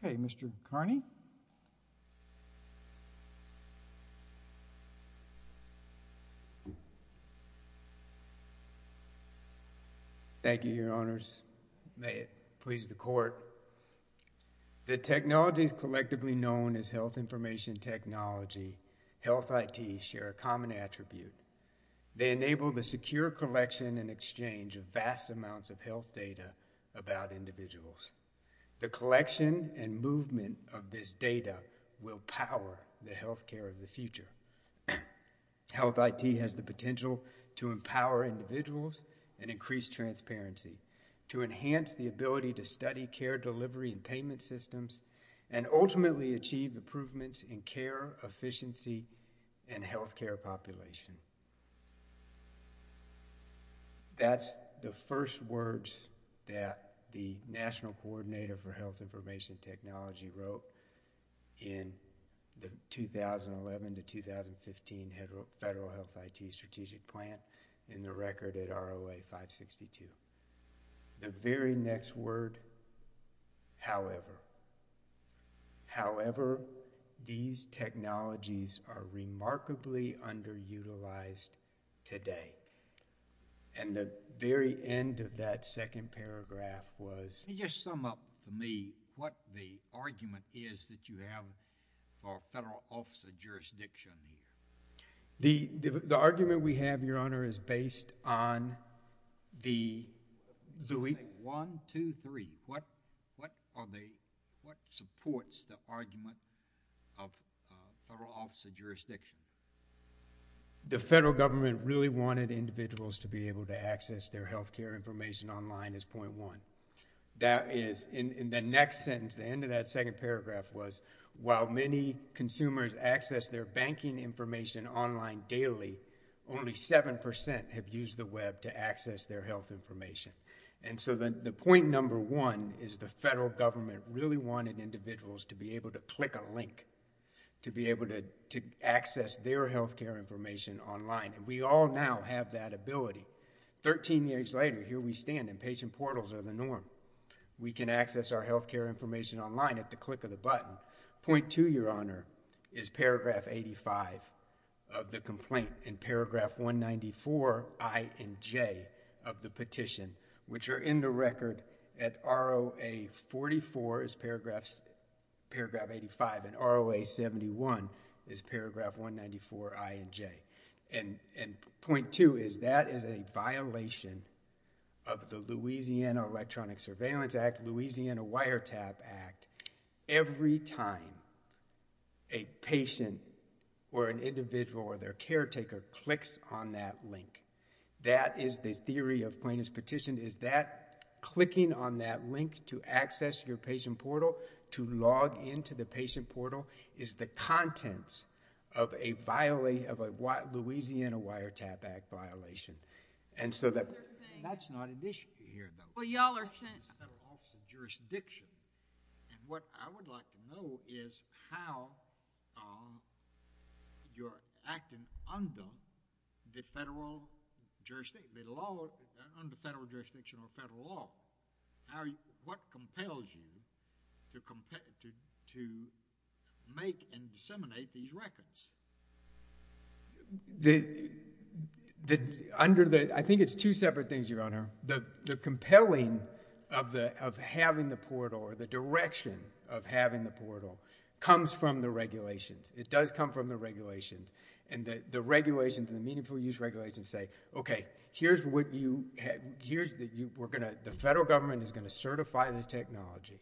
Thank you, Your Honors. May it please the Court. The technologies collectively known as health information technology, health IT, share a common attribute. They enable the secure collection and exchange of vast amounts of health data about individuals. The collection and movement of this data will power the health care of the future. Health IT has the potential to empower individuals and increase transparency, to enhance the ability to study care delivery and payment systems, and ultimately achieve improvements in care, efficiency, and health care population. That's the first words that the National Coordinator for Health Information Technology wrote in the 2011 to 2015 Federal Health IT Strategic Plan in the record at However, these technologies are remarkably underutilized today. And the very end of that second paragraph was... Can you just sum up for me what the argument is that you have for federal officer jurisdiction here? The argument we have, Your Honor, is based on the... One, two, three. What supports the argument of federal officer jurisdiction? The federal government really wanted individuals to be able to access their health care information online is point one. That is, in the next sentence, the end of that second paragraph was, while many consumers access their banking information online daily, only 7% have used the web to access their health information. And so the point number one is the federal government really wanted individuals to be able to click a link, to be able to access their health care information online. And we all now have that ability. Thirteen years later, here we stand, and patient portals are the norm. We can access our health care information online at the click of a button. Point two, Your Honor, is paragraph 85 of the complaint in paragraph 194 I and J of the petition, which are in the record at ROA 44 is paragraph 85, and ROA 71 is paragraph 194 I and J. And point two is that is a violation of the Louisiana Electronic Surveillance Act, Louisiana Wiretap Act. Every time a patient or an individual or their caretaker clicks on that link, that is the theory of plaintiff's petition, is that clicking on that link to access your patient portal, to log into the patient portal, is the content of a violation of a Louisiana Wiretap Act violation. And so that's not an issue here, though. Well, y'all are saying...... under this federal office of jurisdiction, and what I would like to know is how you're acting under the federal jurisdiction, under federal jurisdiction or federal law. What compels you to make and disseminate these records? The... under the... I think it's two separate things, Your Honor. The compelling of having the portal or the direction of having the portal comes from the regulations. It does come from the regulations. And the regulations, the meaningful use regulations say, okay, here's what you... here's the... we're going to... the federal government is going to certify the technology.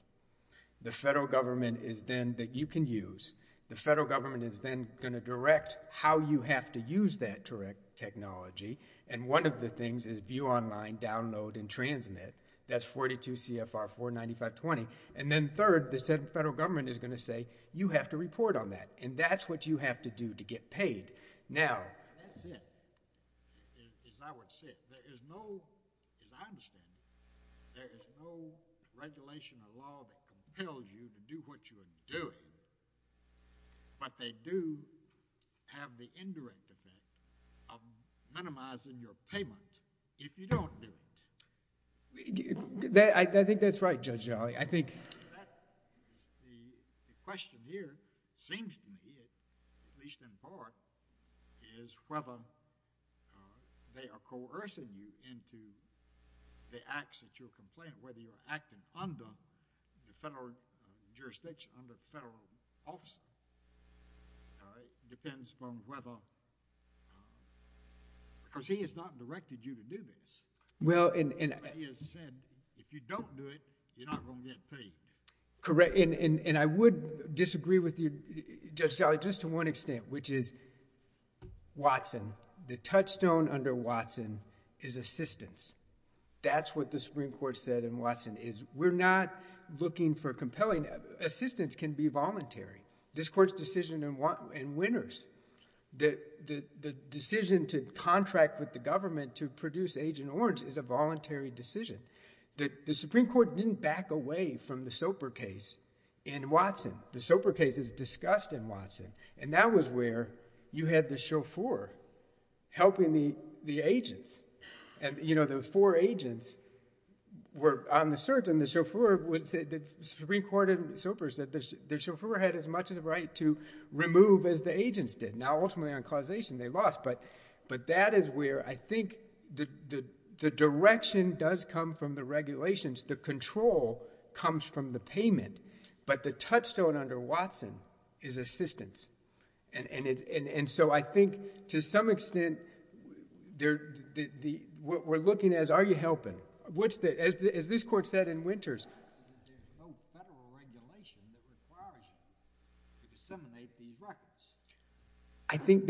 The federal government is then... that you can use. The federal government is then going to direct how you have to use that direct technology. And one of the things is view online, download, and transmit. That's 42 CFR 49520. And then third, the federal government is going to say, you have to report on that. And that's what you have to do to get paid. Now... That's it, is I would say. There is no... as I understand it, there is no regulation in the law that compels you to do what you are doing. But they do have the indirect effect of minimizing your payment if you don't do it. I think that's right, Judge Jolly. I think... The question here seems to me, at least in part, is whether they are coercing you into the acts that you are complaining, whether you are acting under the federal jurisdiction, under the federal office. It depends upon whether... because he has not directed you to do this. Well, and... But he has said, if you don't do it, you're not going to get paid. Correct. And I would disagree with you, Judge Jolly, just to one extent, which is Watson. The touchstone under Watson is assistance. That's what the Supreme Court said in Watson, is we're not looking for compelling... assistance can be voluntary. This Court's decision in Winters, the decision to contract with the government to produce Agent Orange is a voluntary decision. The Supreme Court didn't back away from the Soper case in Watson. The Soper case is discussed in Watson, and that was where you had the chauffeur helping the agents. And, you know, the four agents were on the search, and the chauffeur would say... the Supreme Court in Soper said the chauffeur had as much of the right to remove as the agents did. Now, ultimately on causation, they lost, but that is where I think the direction does come from the regulations. The control comes from the payment, but the touchstone under Watson is assistance. And so I think to some extent, we're looking as, are you helping? As this Court said in Winters... There's no federal regulation that requires you to disseminate these records. I think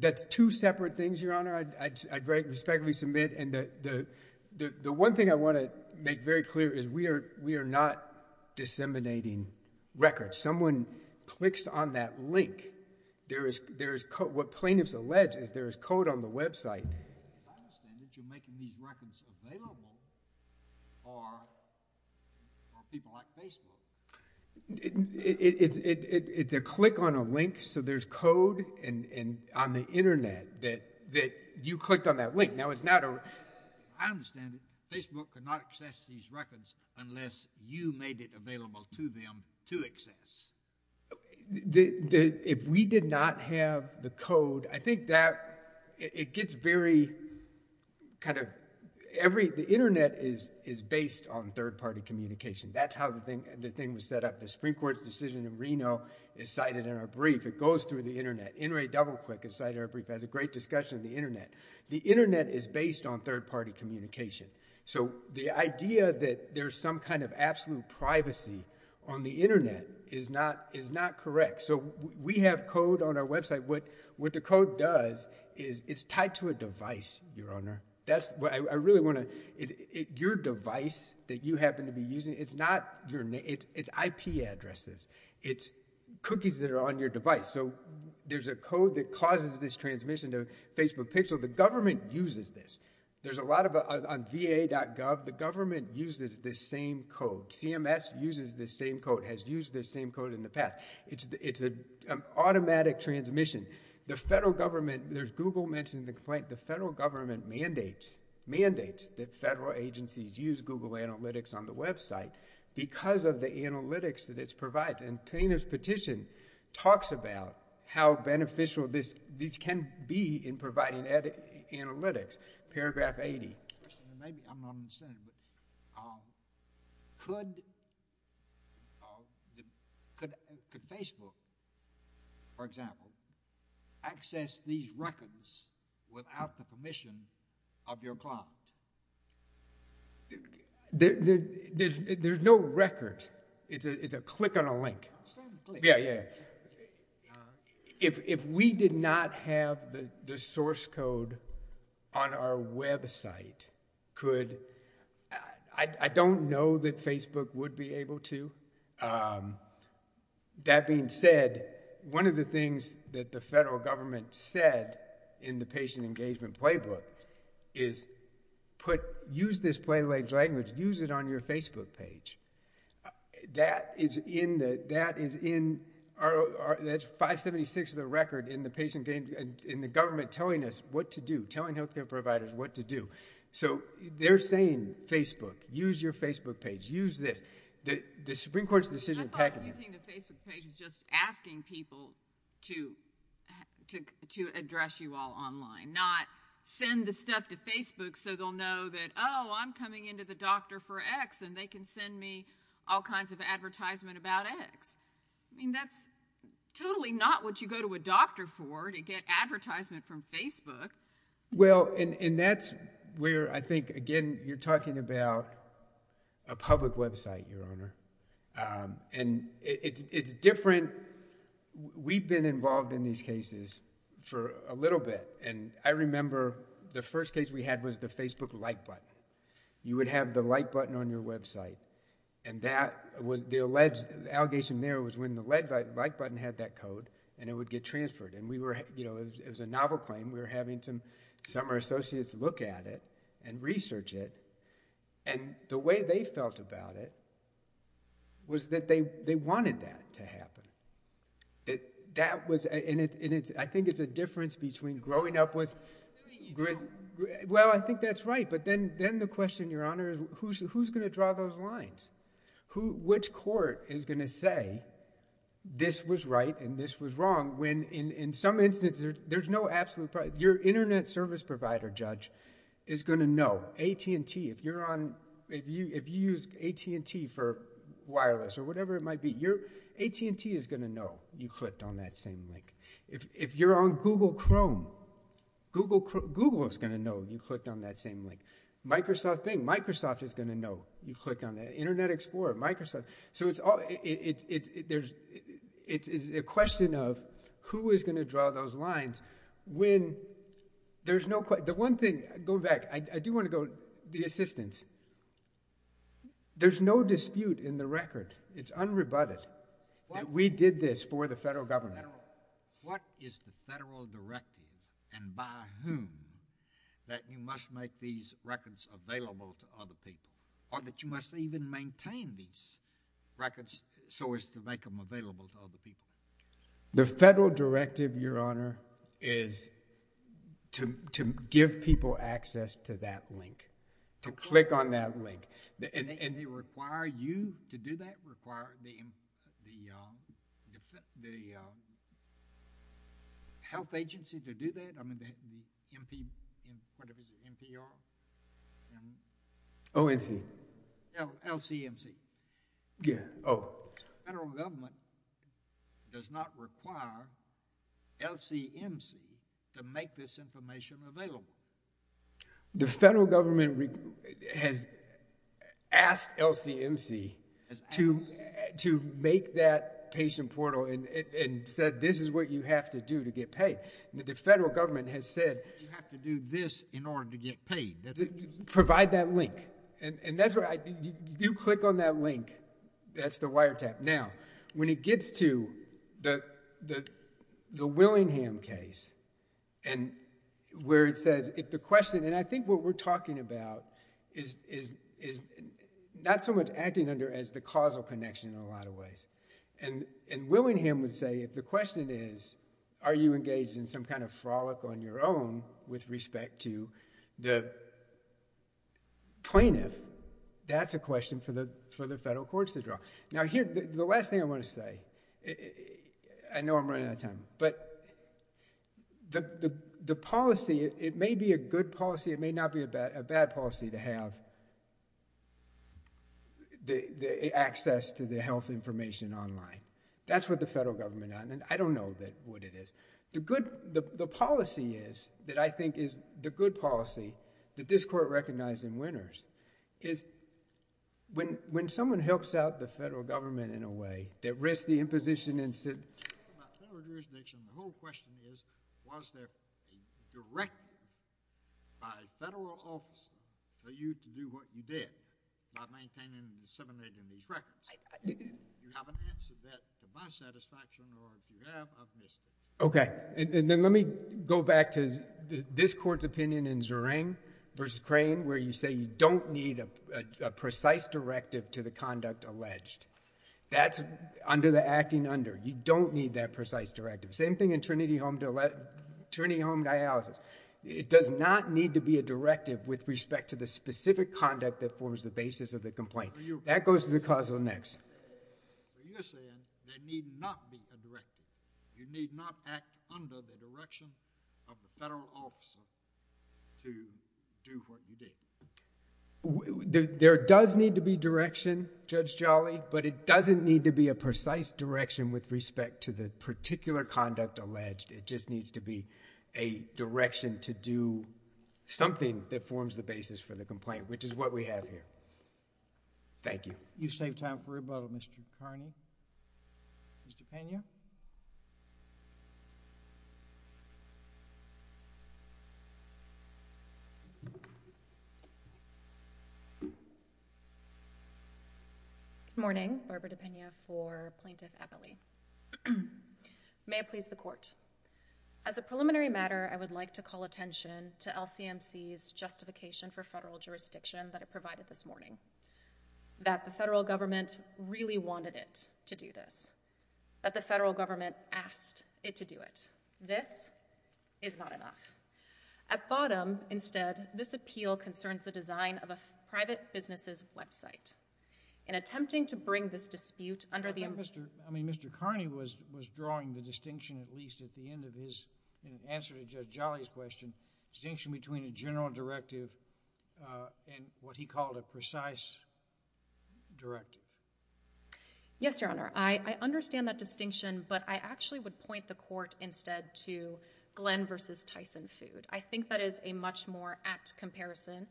that's two separate things, Your Honor, I'd respectfully submit. And the one thing I want to make very clear is we are not disseminating records. Someone clicks on that link. There is... what plaintiffs allege is there is code on the website. As I understand it, you're making these records available for people like Facebook. It's a click on a link, so there's code on the Internet that you clicked on that link. Now, it's not a... I understand it. Facebook could not access these records unless you made it available to them to access. If we did not have the code, I think that it gets very kind of... the Internet is based on third-party communication. That's how the thing was set up. The Supreme Court's decision in Reno is cited in our brief. It goes through the Internet. NRA DoubleClick, as cited in our brief, has a great discussion of the Internet. The Internet is based on third-party communication. So the idea that there's some kind of absolute privacy on the Internet is not correct. So we have code on our website. What the code does is it's tied to a device, Your Honor. I really want to... your device that you happen to be using, it's not your... it's IP addresses. It's cookies that are on your device. So there's a code that causes this transmission to Facebook Pixel. The government uses this. There's a lot of... on VA.gov, the government uses this same code. CMS uses this same code, has used this same code in the past. It's an automatic transmission. The federal government... there's Google mentioned the complaint. The federal government mandates... mandates that federal agencies use Google Analytics on the website because of the analytics that it provides. And the plaintiff's petition talks about how beneficial this... these can be in providing analytics, paragraph 80. Could Facebook, for example, access these records without the permission of your client? There's no record. It's a click on a link. Yeah, yeah. If we did not have the source code on our website, could... I don't know that Facebook would be able to. That being said, one of the things that the federal government said in the patient engagement playbook is put... use this play language, use it on your Facebook page. That is in the... that is in our... that's 576 of the record in the patient... in the government telling us what to do, telling healthcare providers what to do. So they're saying Facebook, use your Facebook page, use this. The Supreme Court's decision... I thought using the Facebook page was just asking people to address you all online, not send the stuff to Facebook so they'll know that, oh, I'm coming into the doctor for X and they can send me all kinds of advertisement about X. I mean, that's totally not what you go to a doctor for, to get advertisement from Facebook. Well, and that's where I think, again, you're talking about a public website, Your Honor, and it's different... we've been involved in these cases for a little bit and I remember the first case we had was the Facebook like button. You would have the like button on your website and that was the alleged... the allegation there was when the like button had that code and it would get transferred and we were, you know, it was a novel claim. We were having some of our associates look at it and research it and the way they felt about it was that they wanted that to happen. That was... and I think it's a difference between growing up with... I'm assuming you do. Well, I think that's right, but then the question, Your Honor, is who's going to draw those lines? Which court is going to say this was right and this was wrong when in some instances, there's no absolute... your internet service provider judge is going to know. AT&T, if you use AT&T for wireless or whatever it might be, your... AT&T is going to know you clicked on that same link. If you're on Google Chrome, Google is going to know you clicked on that same link. Microsoft Bing, Microsoft is going to know you clicked on that. Internet Explorer, Microsoft... so it's all... it's a question of who is going to draw those lines when there's no... the one thing... go back. I do want to go... the assistance. There's no dispute in the record. It's unrebutted that we did this for the federal government. What is the federal directive and by whom that you must make these records available to other people or that you must even maintain these records so as to make them available to other people? The federal directive, Your Honor, is to give people access to that link, to click on that link and... And they require you to do that? Require the health agency to do that? I mean the MP... what is it? MPR? ONC. LCMC. Yeah. Oh. The federal government does not require LCMC to make this information available. The federal government has asked LCMC... Has asked.... to make that patient portal and said this is what you have to do to get paid. The federal government has said... You have to do this in order to get paid. Provide that link. And that's right. You click on that link. That's the wiretap. Now, when it gets to the Willingham case and where it says if the question... and I think what we're talking about is not so much acting under as the causal connection in a lot of ways. And Willingham would say if the question is are you engaged in some kind of plaintiff, that's a question for the federal courts to draw. Now here... the last thing I want to say. I know I'm running out of time. But the policy... it may be a good policy. It may not be a bad policy to have the access to the health information online. That's what the federal government... I don't know what it is. The good... the policy is that I think is the good policy that this court recognized in Winters is when someone helps out the federal government in a way that risks the imposition and said... General jurisdiction, the whole question is was there a directive by federal office for you to do what you did by maintaining and disseminating these records? You have an answer to that to my satisfaction or do you have? I've missed it. Okay. And then let me go back to this court's opinion in Zerang v. Crane where you say you don't need a precise directive to the conduct alleged. That's under the acting under. You don't need that precise directive. Same thing in Trinity Home Dialysis. It does not need to be a directive with respect to the specific conduct that forms the basis of the complaint. That goes to the causal next. You're saying there need not be a directive. You need not act under the direction of the federal officer to do what you did. There does need to be direction, Judge Jolly, but it doesn't need to be a precise direction with respect to the particular conduct alleged. It just needs to be a And that's what we have here. Thank you. You saved time for rebuttal, Mr. Kearney. Ms. DePena. Good morning. Barbara DePena for Plaintiff Eppley. May it please the court. As a preliminary matter, I would like to call attention to LCMC's justification for federal jurisdiction that it provided this morning. That the federal government really wanted it to do this. That the federal government asked it to do it. This is not enough. At bottom, instead, this appeal concerns the design of a private business's website. In attempting to bring this dispute under the I think Mr. Kearney was drawing the distinction, at least at the end of his answer to Judge Jolly's question, distinction between a general directive and what he called a precise directive. Yes, Your Honor. I understand that distinction, but I actually would point the court instead to Glenn versus Tyson food. I think that is a much more apt comparison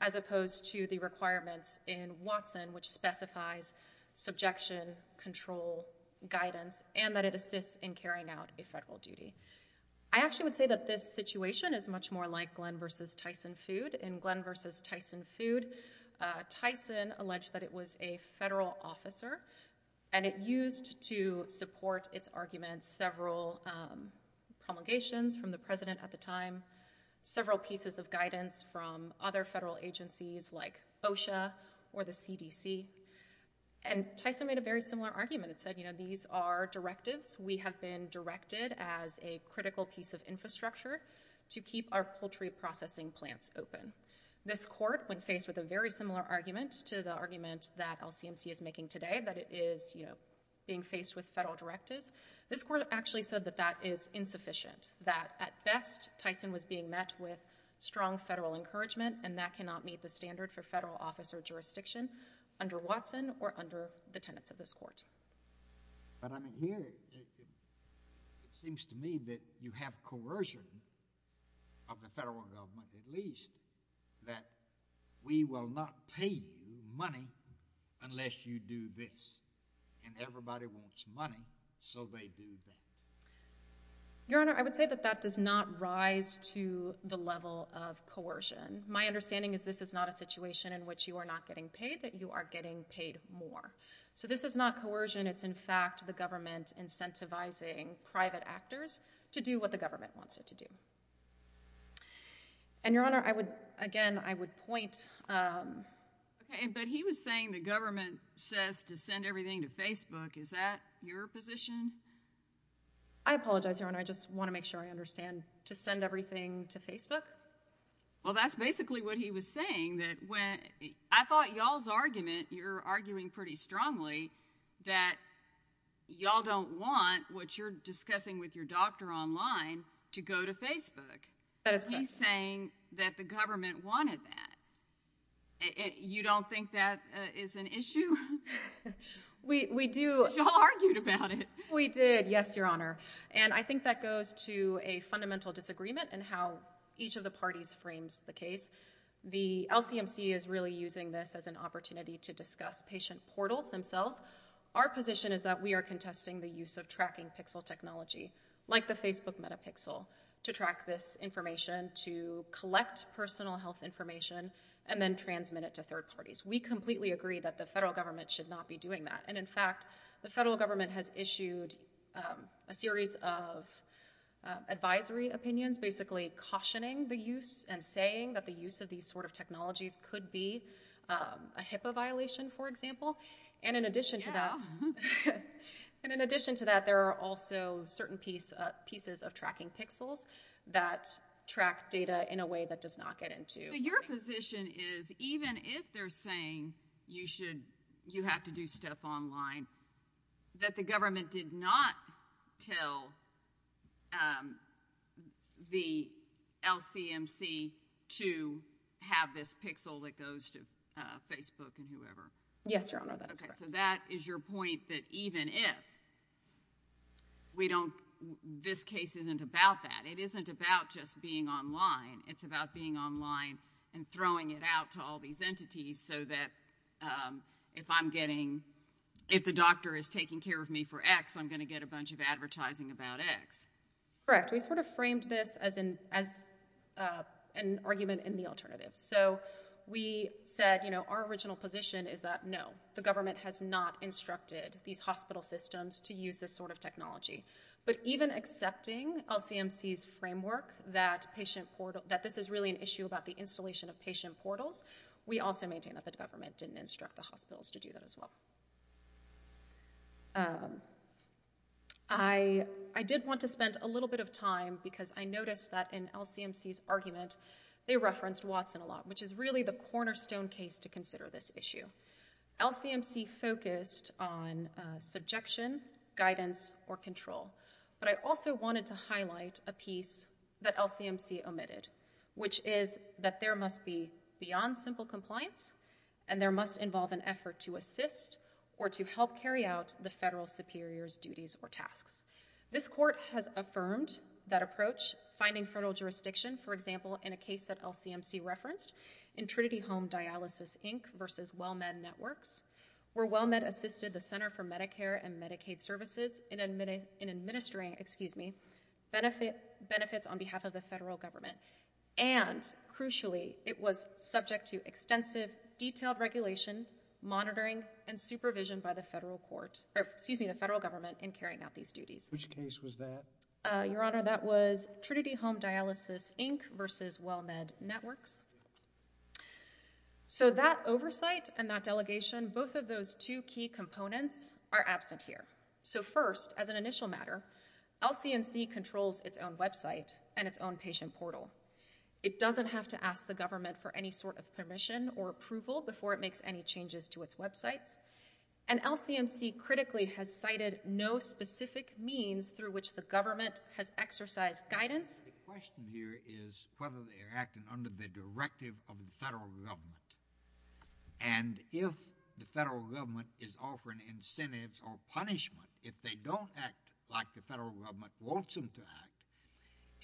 as opposed to the requirements in Watson, which specifies subjection, control, guidance, and that it assists in carrying out a federal duty. I actually would say that this situation is much more like Glenn versus Tyson food. In Glenn versus Tyson food, Tyson alleged that it was a federal officer and it used to support its arguments several promulgations from the president at the time, several pieces of guidance from other federal agencies like I think it's a very similar argument. It said these are directives. We have been directed as a critical piece of infrastructure to keep our poultry processing plants open. This court, when faced with a very similar argument to the argument that LCMC is making today, that it is being faced with federal directives, this court actually said that that is insufficient, that at best, Tyson was being met with strong federal encouragement and that cannot meet the standard for federal officer jurisdiction under Watson or under the tenants of this court. But I mean, here, it seems to me that you have coercion of the federal government at least that we will not pay you money unless you do this and everybody wants money, so they do that. Your Honor, I would say that that does not rise to the level of coercion. My understanding is this is not a situation in which you are not getting paid, that you are getting paid more. So this is not coercion. It's in fact the government incentivizing private actors to do what the government wants them to do. And Your Honor, again, I would point... But he was saying the government says to send everything to Facebook. Is that your position? I apologize, Your Honor. I just want to make sure I understand. To send everything to Facebook? Well, that's basically what he was saying. I thought y'all's argument, you're arguing pretty strongly that y'all don't want what you're discussing with your doctor online to go to Facebook. He's saying that the government wanted that. You don't think that is an issue? Y'all argued about it. We did, yes, Your Honor. And I think that goes to a fundamental disagreement in how each of the parties frames the case. The LCMC is really using this as an opportunity to discuss patient portals themselves. Our position is that we are using this information to collect personal health information and then transmit it to third parties. We completely agree that the federal government should not be doing that. And in fact, the federal government has issued a series of advisory opinions basically cautioning the use and saying that the use of these sort of technologies could be a HIPAA violation, for example. And in addition to that, there are also certain pieces of tracking pixels that track data in a way that does not get into. So your position is even if they're saying you have to do stuff online, that the government did not tell the LCMC to have this pixel that goes to Facebook and we don't, this case isn't about that. It isn't about just being online. It's about being online and throwing it out to all these entities so that if I'm getting, if the doctor is taking care of me for X, I'm going to get a bunch of advertising about X. Correct. We sort of framed this as an argument in the alternative. So we said our original position is that no, the government has not instructed these hospital systems to use this sort of technology. But even accepting LCMC's framework that patient portal, that this is really an issue about the installation of patient portals, we also maintain that the government didn't instruct the hospitals to do that as well. I did want to spend a little bit of time because I noticed that in LCMC's case, there was a lot of focus on the subjection, guidance, or control. But I also wanted to highlight a piece that LCMC omitted, which is that there must be beyond simple compliance and there must involve an effort to assist or to help carry out the federal superior's duties or tasks. This court has affirmed that approach, finding federal jurisdiction, for example, in a case that LCMC referenced in Trinity Home Dialysis, Inc. versus WellMed Networks, where WellMed assisted the Center for Medicare and Medicaid Services in administering, excuse me, benefits on behalf of the federal government. And crucially, it was subject to extensive, detailed regulation, monitoring, and supervision by the federal court, excuse me, the federal government in carrying out these duties. Which case was that? Your Honor, that was Trinity Home Dialysis, Inc. versus WellMed Networks. So that oversight and that delegation, both of those two key components are absent here. So first, as an initial matter, LCMC controls its own website and its own patient portal. It doesn't have to ask the government for any sort of guidance. LCMC critically has cited no specific means through which the government has exercised guidance. The question here is whether they are acting under the directive of the federal government. And if the federal government is offering incentives or punishment, if they don't act like the federal government wants them to act,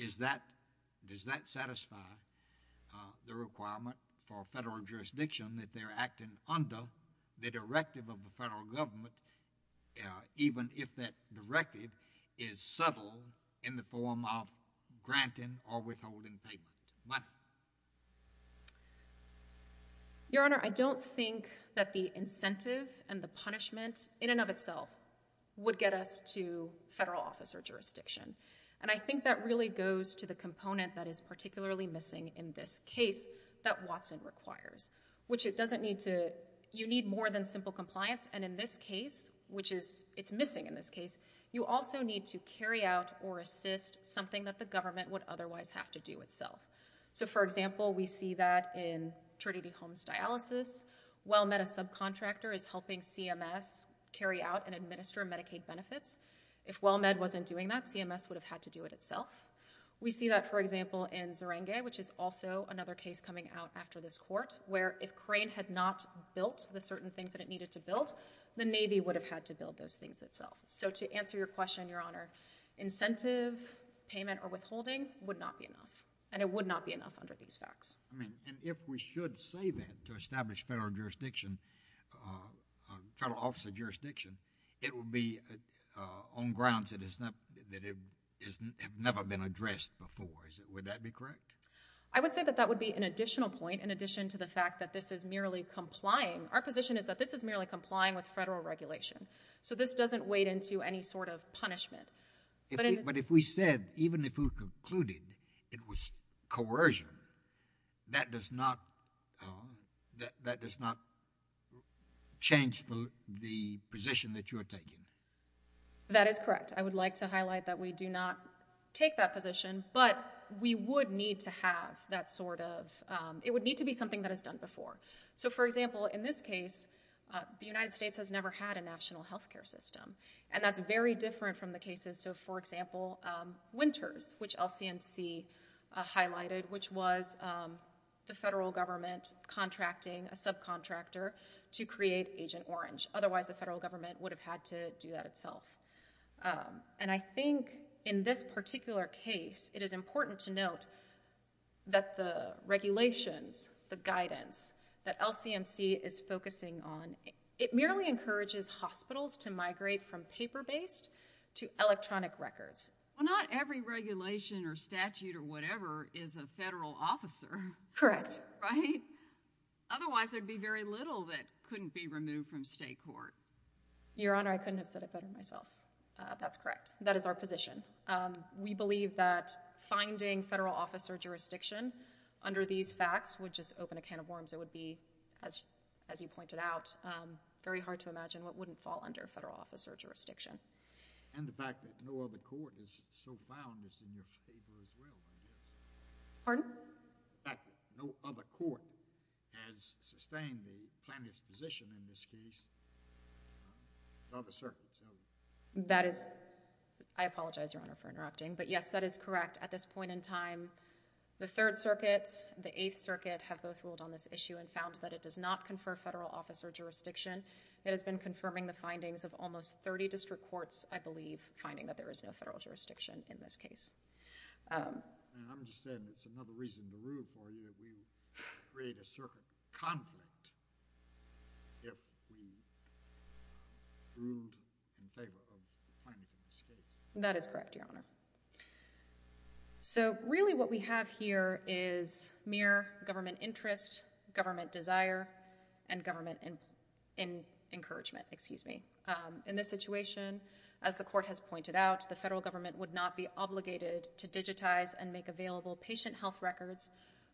does that satisfy the requirement for even if that directive is subtle in the form of granting or withholding payment? Your Honor, I don't think that the incentive and the punishment in and of itself would get us to federal officer jurisdiction. And I think that really goes to the component that is particularly missing in this case that Watson requires, which you need more than simple compliance. And in this case, which it's missing in this case, you also need to carry out or assist something that the government would otherwise have to do itself. So for example, we see that in Trinity Homes Dialysis. WellMed, a subcontractor, is helping CMS carry out and administer Medicaid benefits. If WellMed wasn't doing that, CMS would have had to do it itself. We see that, for example, in Zerenge, which is also another case coming out after this court, where if Crane had not built the certain things that it needed to build, the Navy would have had to build those things itself. So to answer your question, Your Honor, incentive payment or withholding would not be enough. And it would not be enough under these facts. And if we should say that to establish federal jurisdiction, federal officer jurisdiction, it would be on grounds that have never been addressed before. Would that be correct? I would say that that would be an additional point, in addition to the fact that this is merely complying. Our position is that this is merely complying with federal regulation. So this doesn't wade into any sort of punishment. But if we said, even if we concluded it was coercion, that does not change the position that you are taking. That is correct. I would like to highlight that we do not take that position, but we would need to have that sort of, it would need to be something that is done before. So, for example, in this case, the United States has never had a national health care system. And that's very different from the cases. So, for example, Winters, which LCMC highlighted, which was the federal government contracting a subcontractor to create Agent Orange. Otherwise, the federal government would have had to do that itself. And I think in this particular case, it is important to note that the regulations, the guidance that LCMC is focusing on, it merely encourages hospitals to migrate from state court to federal court. And that is the only way that the federal government would be able to do that. Your Honor, I couldn't have said it better myself. That's correct. That is our position. We believe that finding federal officer jurisdiction under these facts would just not be fair. Pardon? The fact that no other court has sustained the plaintiff's position in this case other circuits. That is, I apologize, Your Honor, for interrupting. But yes, that is correct. At this point in time, the Third Circuit, the Eighth Circuit have both ruled on this issue and found that it does not confer federal officer jurisdiction. It has been confirming the findings of almost 30 district courts, I believe, finding that there is no federal jurisdiction in this case. I'm just saying it's another reason to rule for you that we create a circuit conflict if we ruled in favor of the plaintiff in this case. That is correct, Your Honor. So really what we have here is mere government interest, government desire, and government encouragement. In this situation, as the court has pointed out, the federal government would not be obligated to digitize and make available patient health records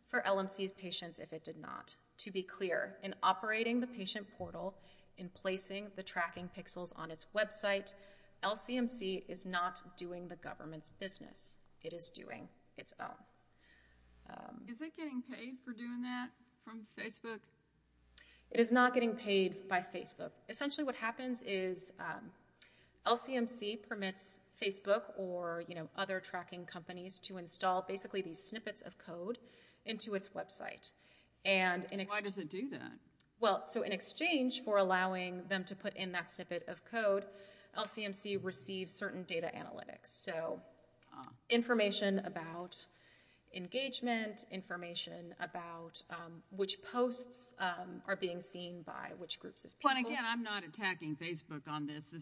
for LMC's patients if it did not. To be clear, in operating the patient portal, in placing the tracking pixels on its website, LCMC is not doing the government's business. It is doing its own. Is it getting paid for doing that from Facebook? It is not getting paid by Facebook. Essentially what happens is LCMC permits Facebook or other tracking companies to install basically these snippets of code into its website. Why does it do that? Well, so in exchange for allowing them to put in that snippet of code, LCMC receives certain data analytics. So information about engagement, information about which posts are being seen by which groups of people. Again, I'm not attacking Facebook on this.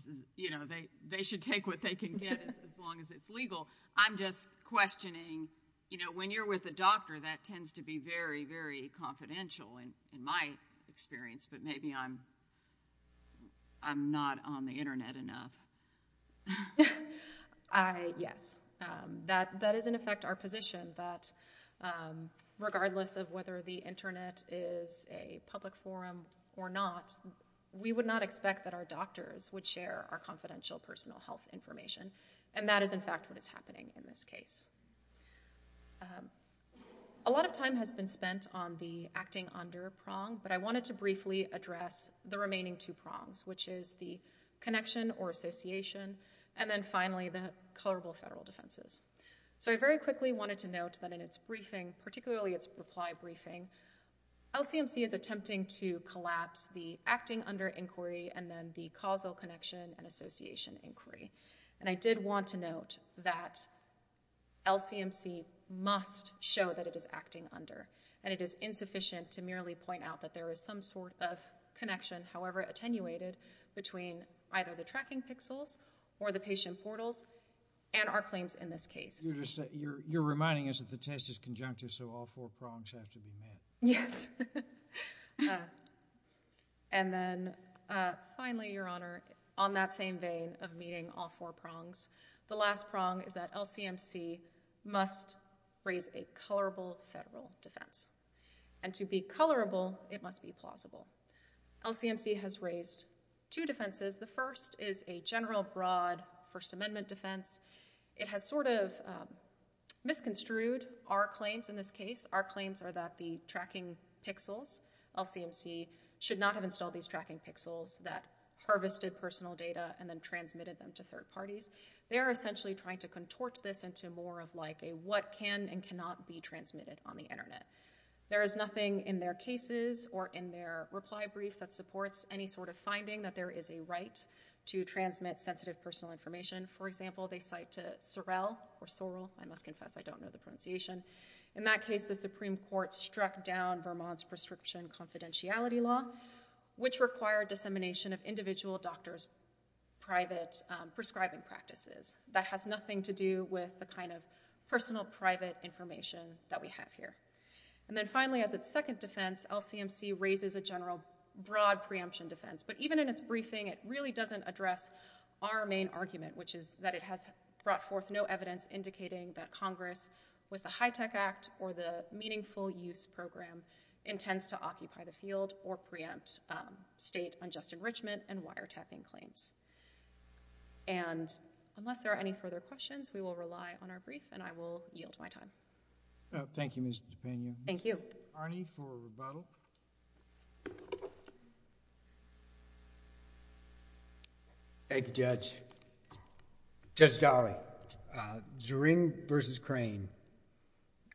They should take what they can get as long as it's legal. I'm just questioning when you're with a doctor, that tends to be very, very confidential in my experience, but maybe I'm not on the Internet enough. Yes. That is in effect our position that regardless of whether the Internet is a public forum or not, we would not expect that our doctors would share our confidential personal health information. And that is in fact what is happening in this case. A lot of time has been spent on the acting under prong, but I wanted to briefly address the remaining two prongs, which is the connection or association, and then finally the colorable federal defenses. So I very quickly wanted to note that in its briefing, particularly its reply briefing, LCMC is attempting to collapse the acting under inquiry and then the causal connection and association inquiry. And I did want to note that LCMC must show that it is acting under, and it is insufficient to merely point out that there is some sort of connection, however attenuated, between either the tracking pixels or the patient portals and our claims in this case. You're reminding us that the test is conjunctive, so all four prongs have to be met. Yes. And then finally, Your Honor, on that same vein of meeting all four prongs, the last prong is that LCMC must raise a colorable federal defense. And to be colorable, it must be plausible. LCMC has raised two defenses. The first is a general broad First Amendment defense. It has sort of misconstrued our claims in this case. Our claims are that the tracking pixels, LCMC should not have installed these tracking pixels that harvested personal data and then transmitted them to third parties. They are essentially trying to contort this into more of like a what can and cannot be transmitted on the Internet. There is nothing in their cases or in their reply brief that supports any sort of finding that there is a right to transmit sensitive personal information. For example, they cite to Sorrel or Sorrel. I must confess I don't know the pronunciation. In that case, the Supreme Court struck down Vermont's prescription confidentiality law, which required dissemination of individual doctors' private prescribing practices. That has nothing to do with the kind of personal private information that we have here. And then finally, as its second defense, LCMC raises a general broad preemption defense. But even in its briefing, it really doesn't address our main argument, which is that it has brought forth no evidence indicating that Congress, with the HITECH Act or the Meaningful Use Program, intends to occupy the field or preempt state unjust enrichment and wiretapping claims. And unless there are any further questions, we will rely on our rebuttal. Thank you, Judge. Judge Daly, Zering v. Crane,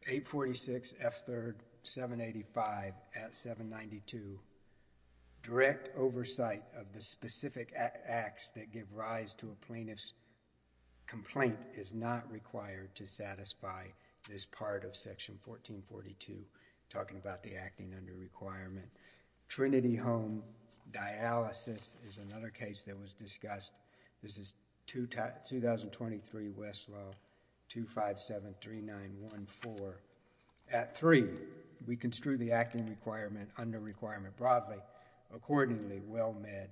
846 F. 3rd, 785 at 792. Direct oversight of the specific acts that give rise to a plaintiff's complaint is not required to satisfy this part of the action under requirement. Trinity Home dialysis is another case that was discussed. This is 2023 Westlaw 2573914. At 3, we construe the acting requirement under requirement broadly. Accordingly, WellMed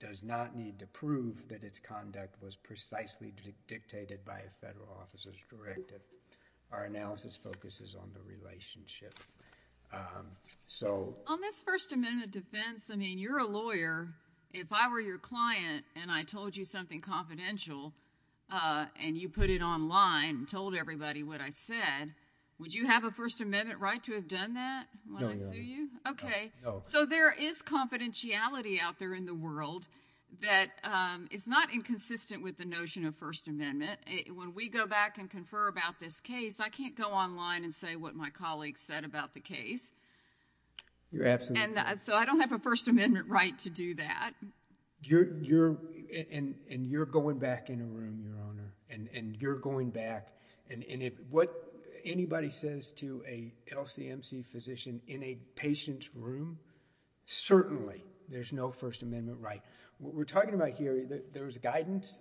does not need to prove that its conduct was precisely dictated by On this First Amendment defense, I mean, you're a lawyer. If I were your client and I told you something confidential and you put it online and told everybody what I said, would you have a First Amendment right to have done that when I sue you? Okay. So there is confidentiality out there in the world that is not inconsistent with the notion of First Amendment. When we go back and confer about this case, I can't go online and say what my colleagues said about the case. So I don't have a First Amendment right to do that. And you're going back in a room, Your Honor. And you're going back. And what anybody says to a LCMC physician in a patient's room, certainly there's no First Amendment right. What we're talking about here, there's guidance.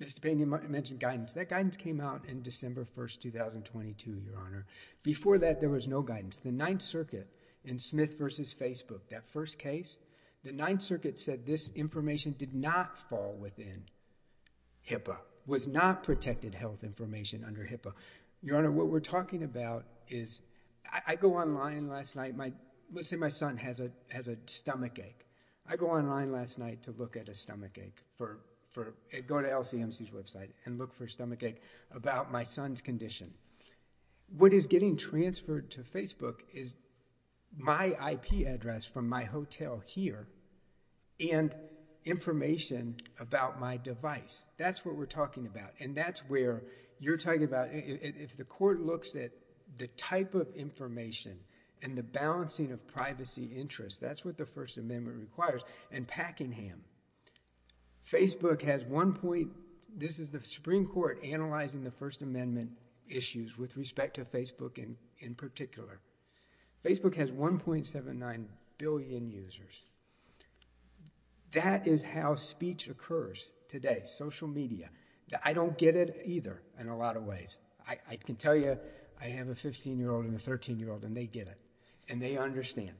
Mr. Payne, you mentioned guidance. That guidance came out in December 1, 2022, Your Honor. Before that, there was no guidance. The Ninth Circuit in Smith v. Facebook, that first case, the Ninth Circuit said this information did not fall within HIPAA, was not protected health information under HIPAA. Your Honor, what we're talking about is I go online last night. Let's say my son has a stomach ache. I go online last night to look at a stomach ache, go to LCMC's website and look for a stomach ache about my son's condition. What is getting transferred to Facebook is my IP address from my hotel here and information about my device. That's what we're talking about. And that's where you're talking about if the court looks at the type of information and the balancing of privacy interests, that's what the First Amendment requires. And Packingham, Facebook has one point... this is the Supreme Court analyzing the First Amendment issues with respect to Facebook in particular. Facebook has 1.79 billion users. That is how speech occurs today, social media. I don't get it either in a lot of ways. I can tell you I have a 15-year-old and a 13-year-old and they get it and they understand.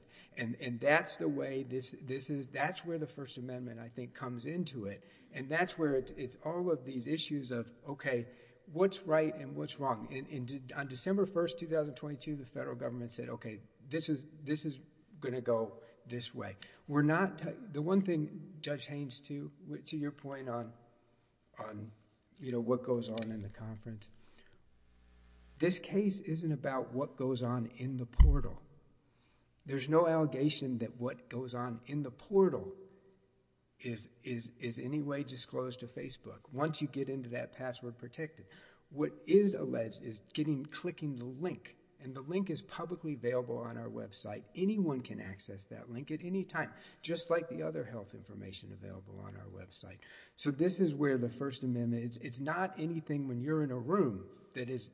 That's the way... that's where the First Amendment I think comes into it and that's where it's all of these issues of, okay, what's right and what's wrong? On December 1st, 2022, the federal government said, okay, this is going to go this way. We're not... the one thing, Judge Haynes, to your point on what goes on in the conference, this case isn't about what goes on in the portal. There's no allegation that what goes on in the portal is any way disclosed to Facebook once you get into that password protected. What is alleged is clicking the link and the link is publicly available on our website. Anyone can access that link at any time, just like the other health information available on our website. So this is where the First Amendment... it's not anything when you're in a room that is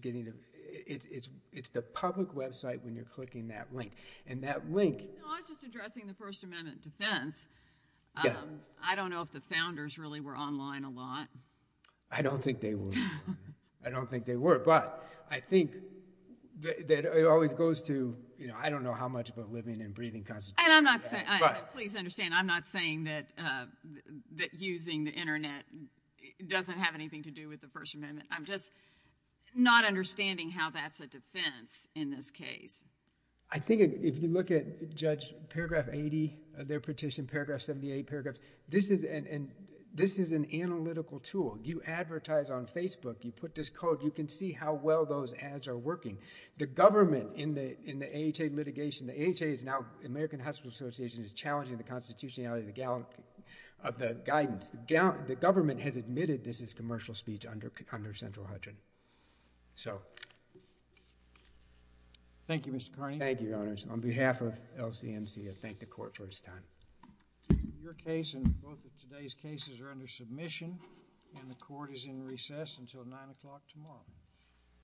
getting... it's the public website when you're clicking that link. And that link... No, I was just addressing the First Amendment defense. I don't know if the founders really were online a lot. I don't think they were. I don't think they were, but I think that it always goes to... I don't know how much about living and breathing Constitution... And I'm not saying... please understand, I'm not saying that using the internet doesn't have anything to do with the First Amendment. I'm just not understanding how that's a defense in this case. I think if you look at Judge Paragraph 80 of their petition, Paragraph 78, Paragraph... this is an analytical tool. You advertise on Facebook, you put this code, you can see how well those ads are working. The government in the AHA litigation... the AHA is now American Hospital Association is challenging the constitutionality of the guidance. The government has admitted this is commercial speech under Central Hutchins. So... Thank you, Mr. Kearney. Thank you, Your Honors. On behalf of LCMC, I thank the Court for its time. Your case and both of today's cases are under submission, and the Court is in recess until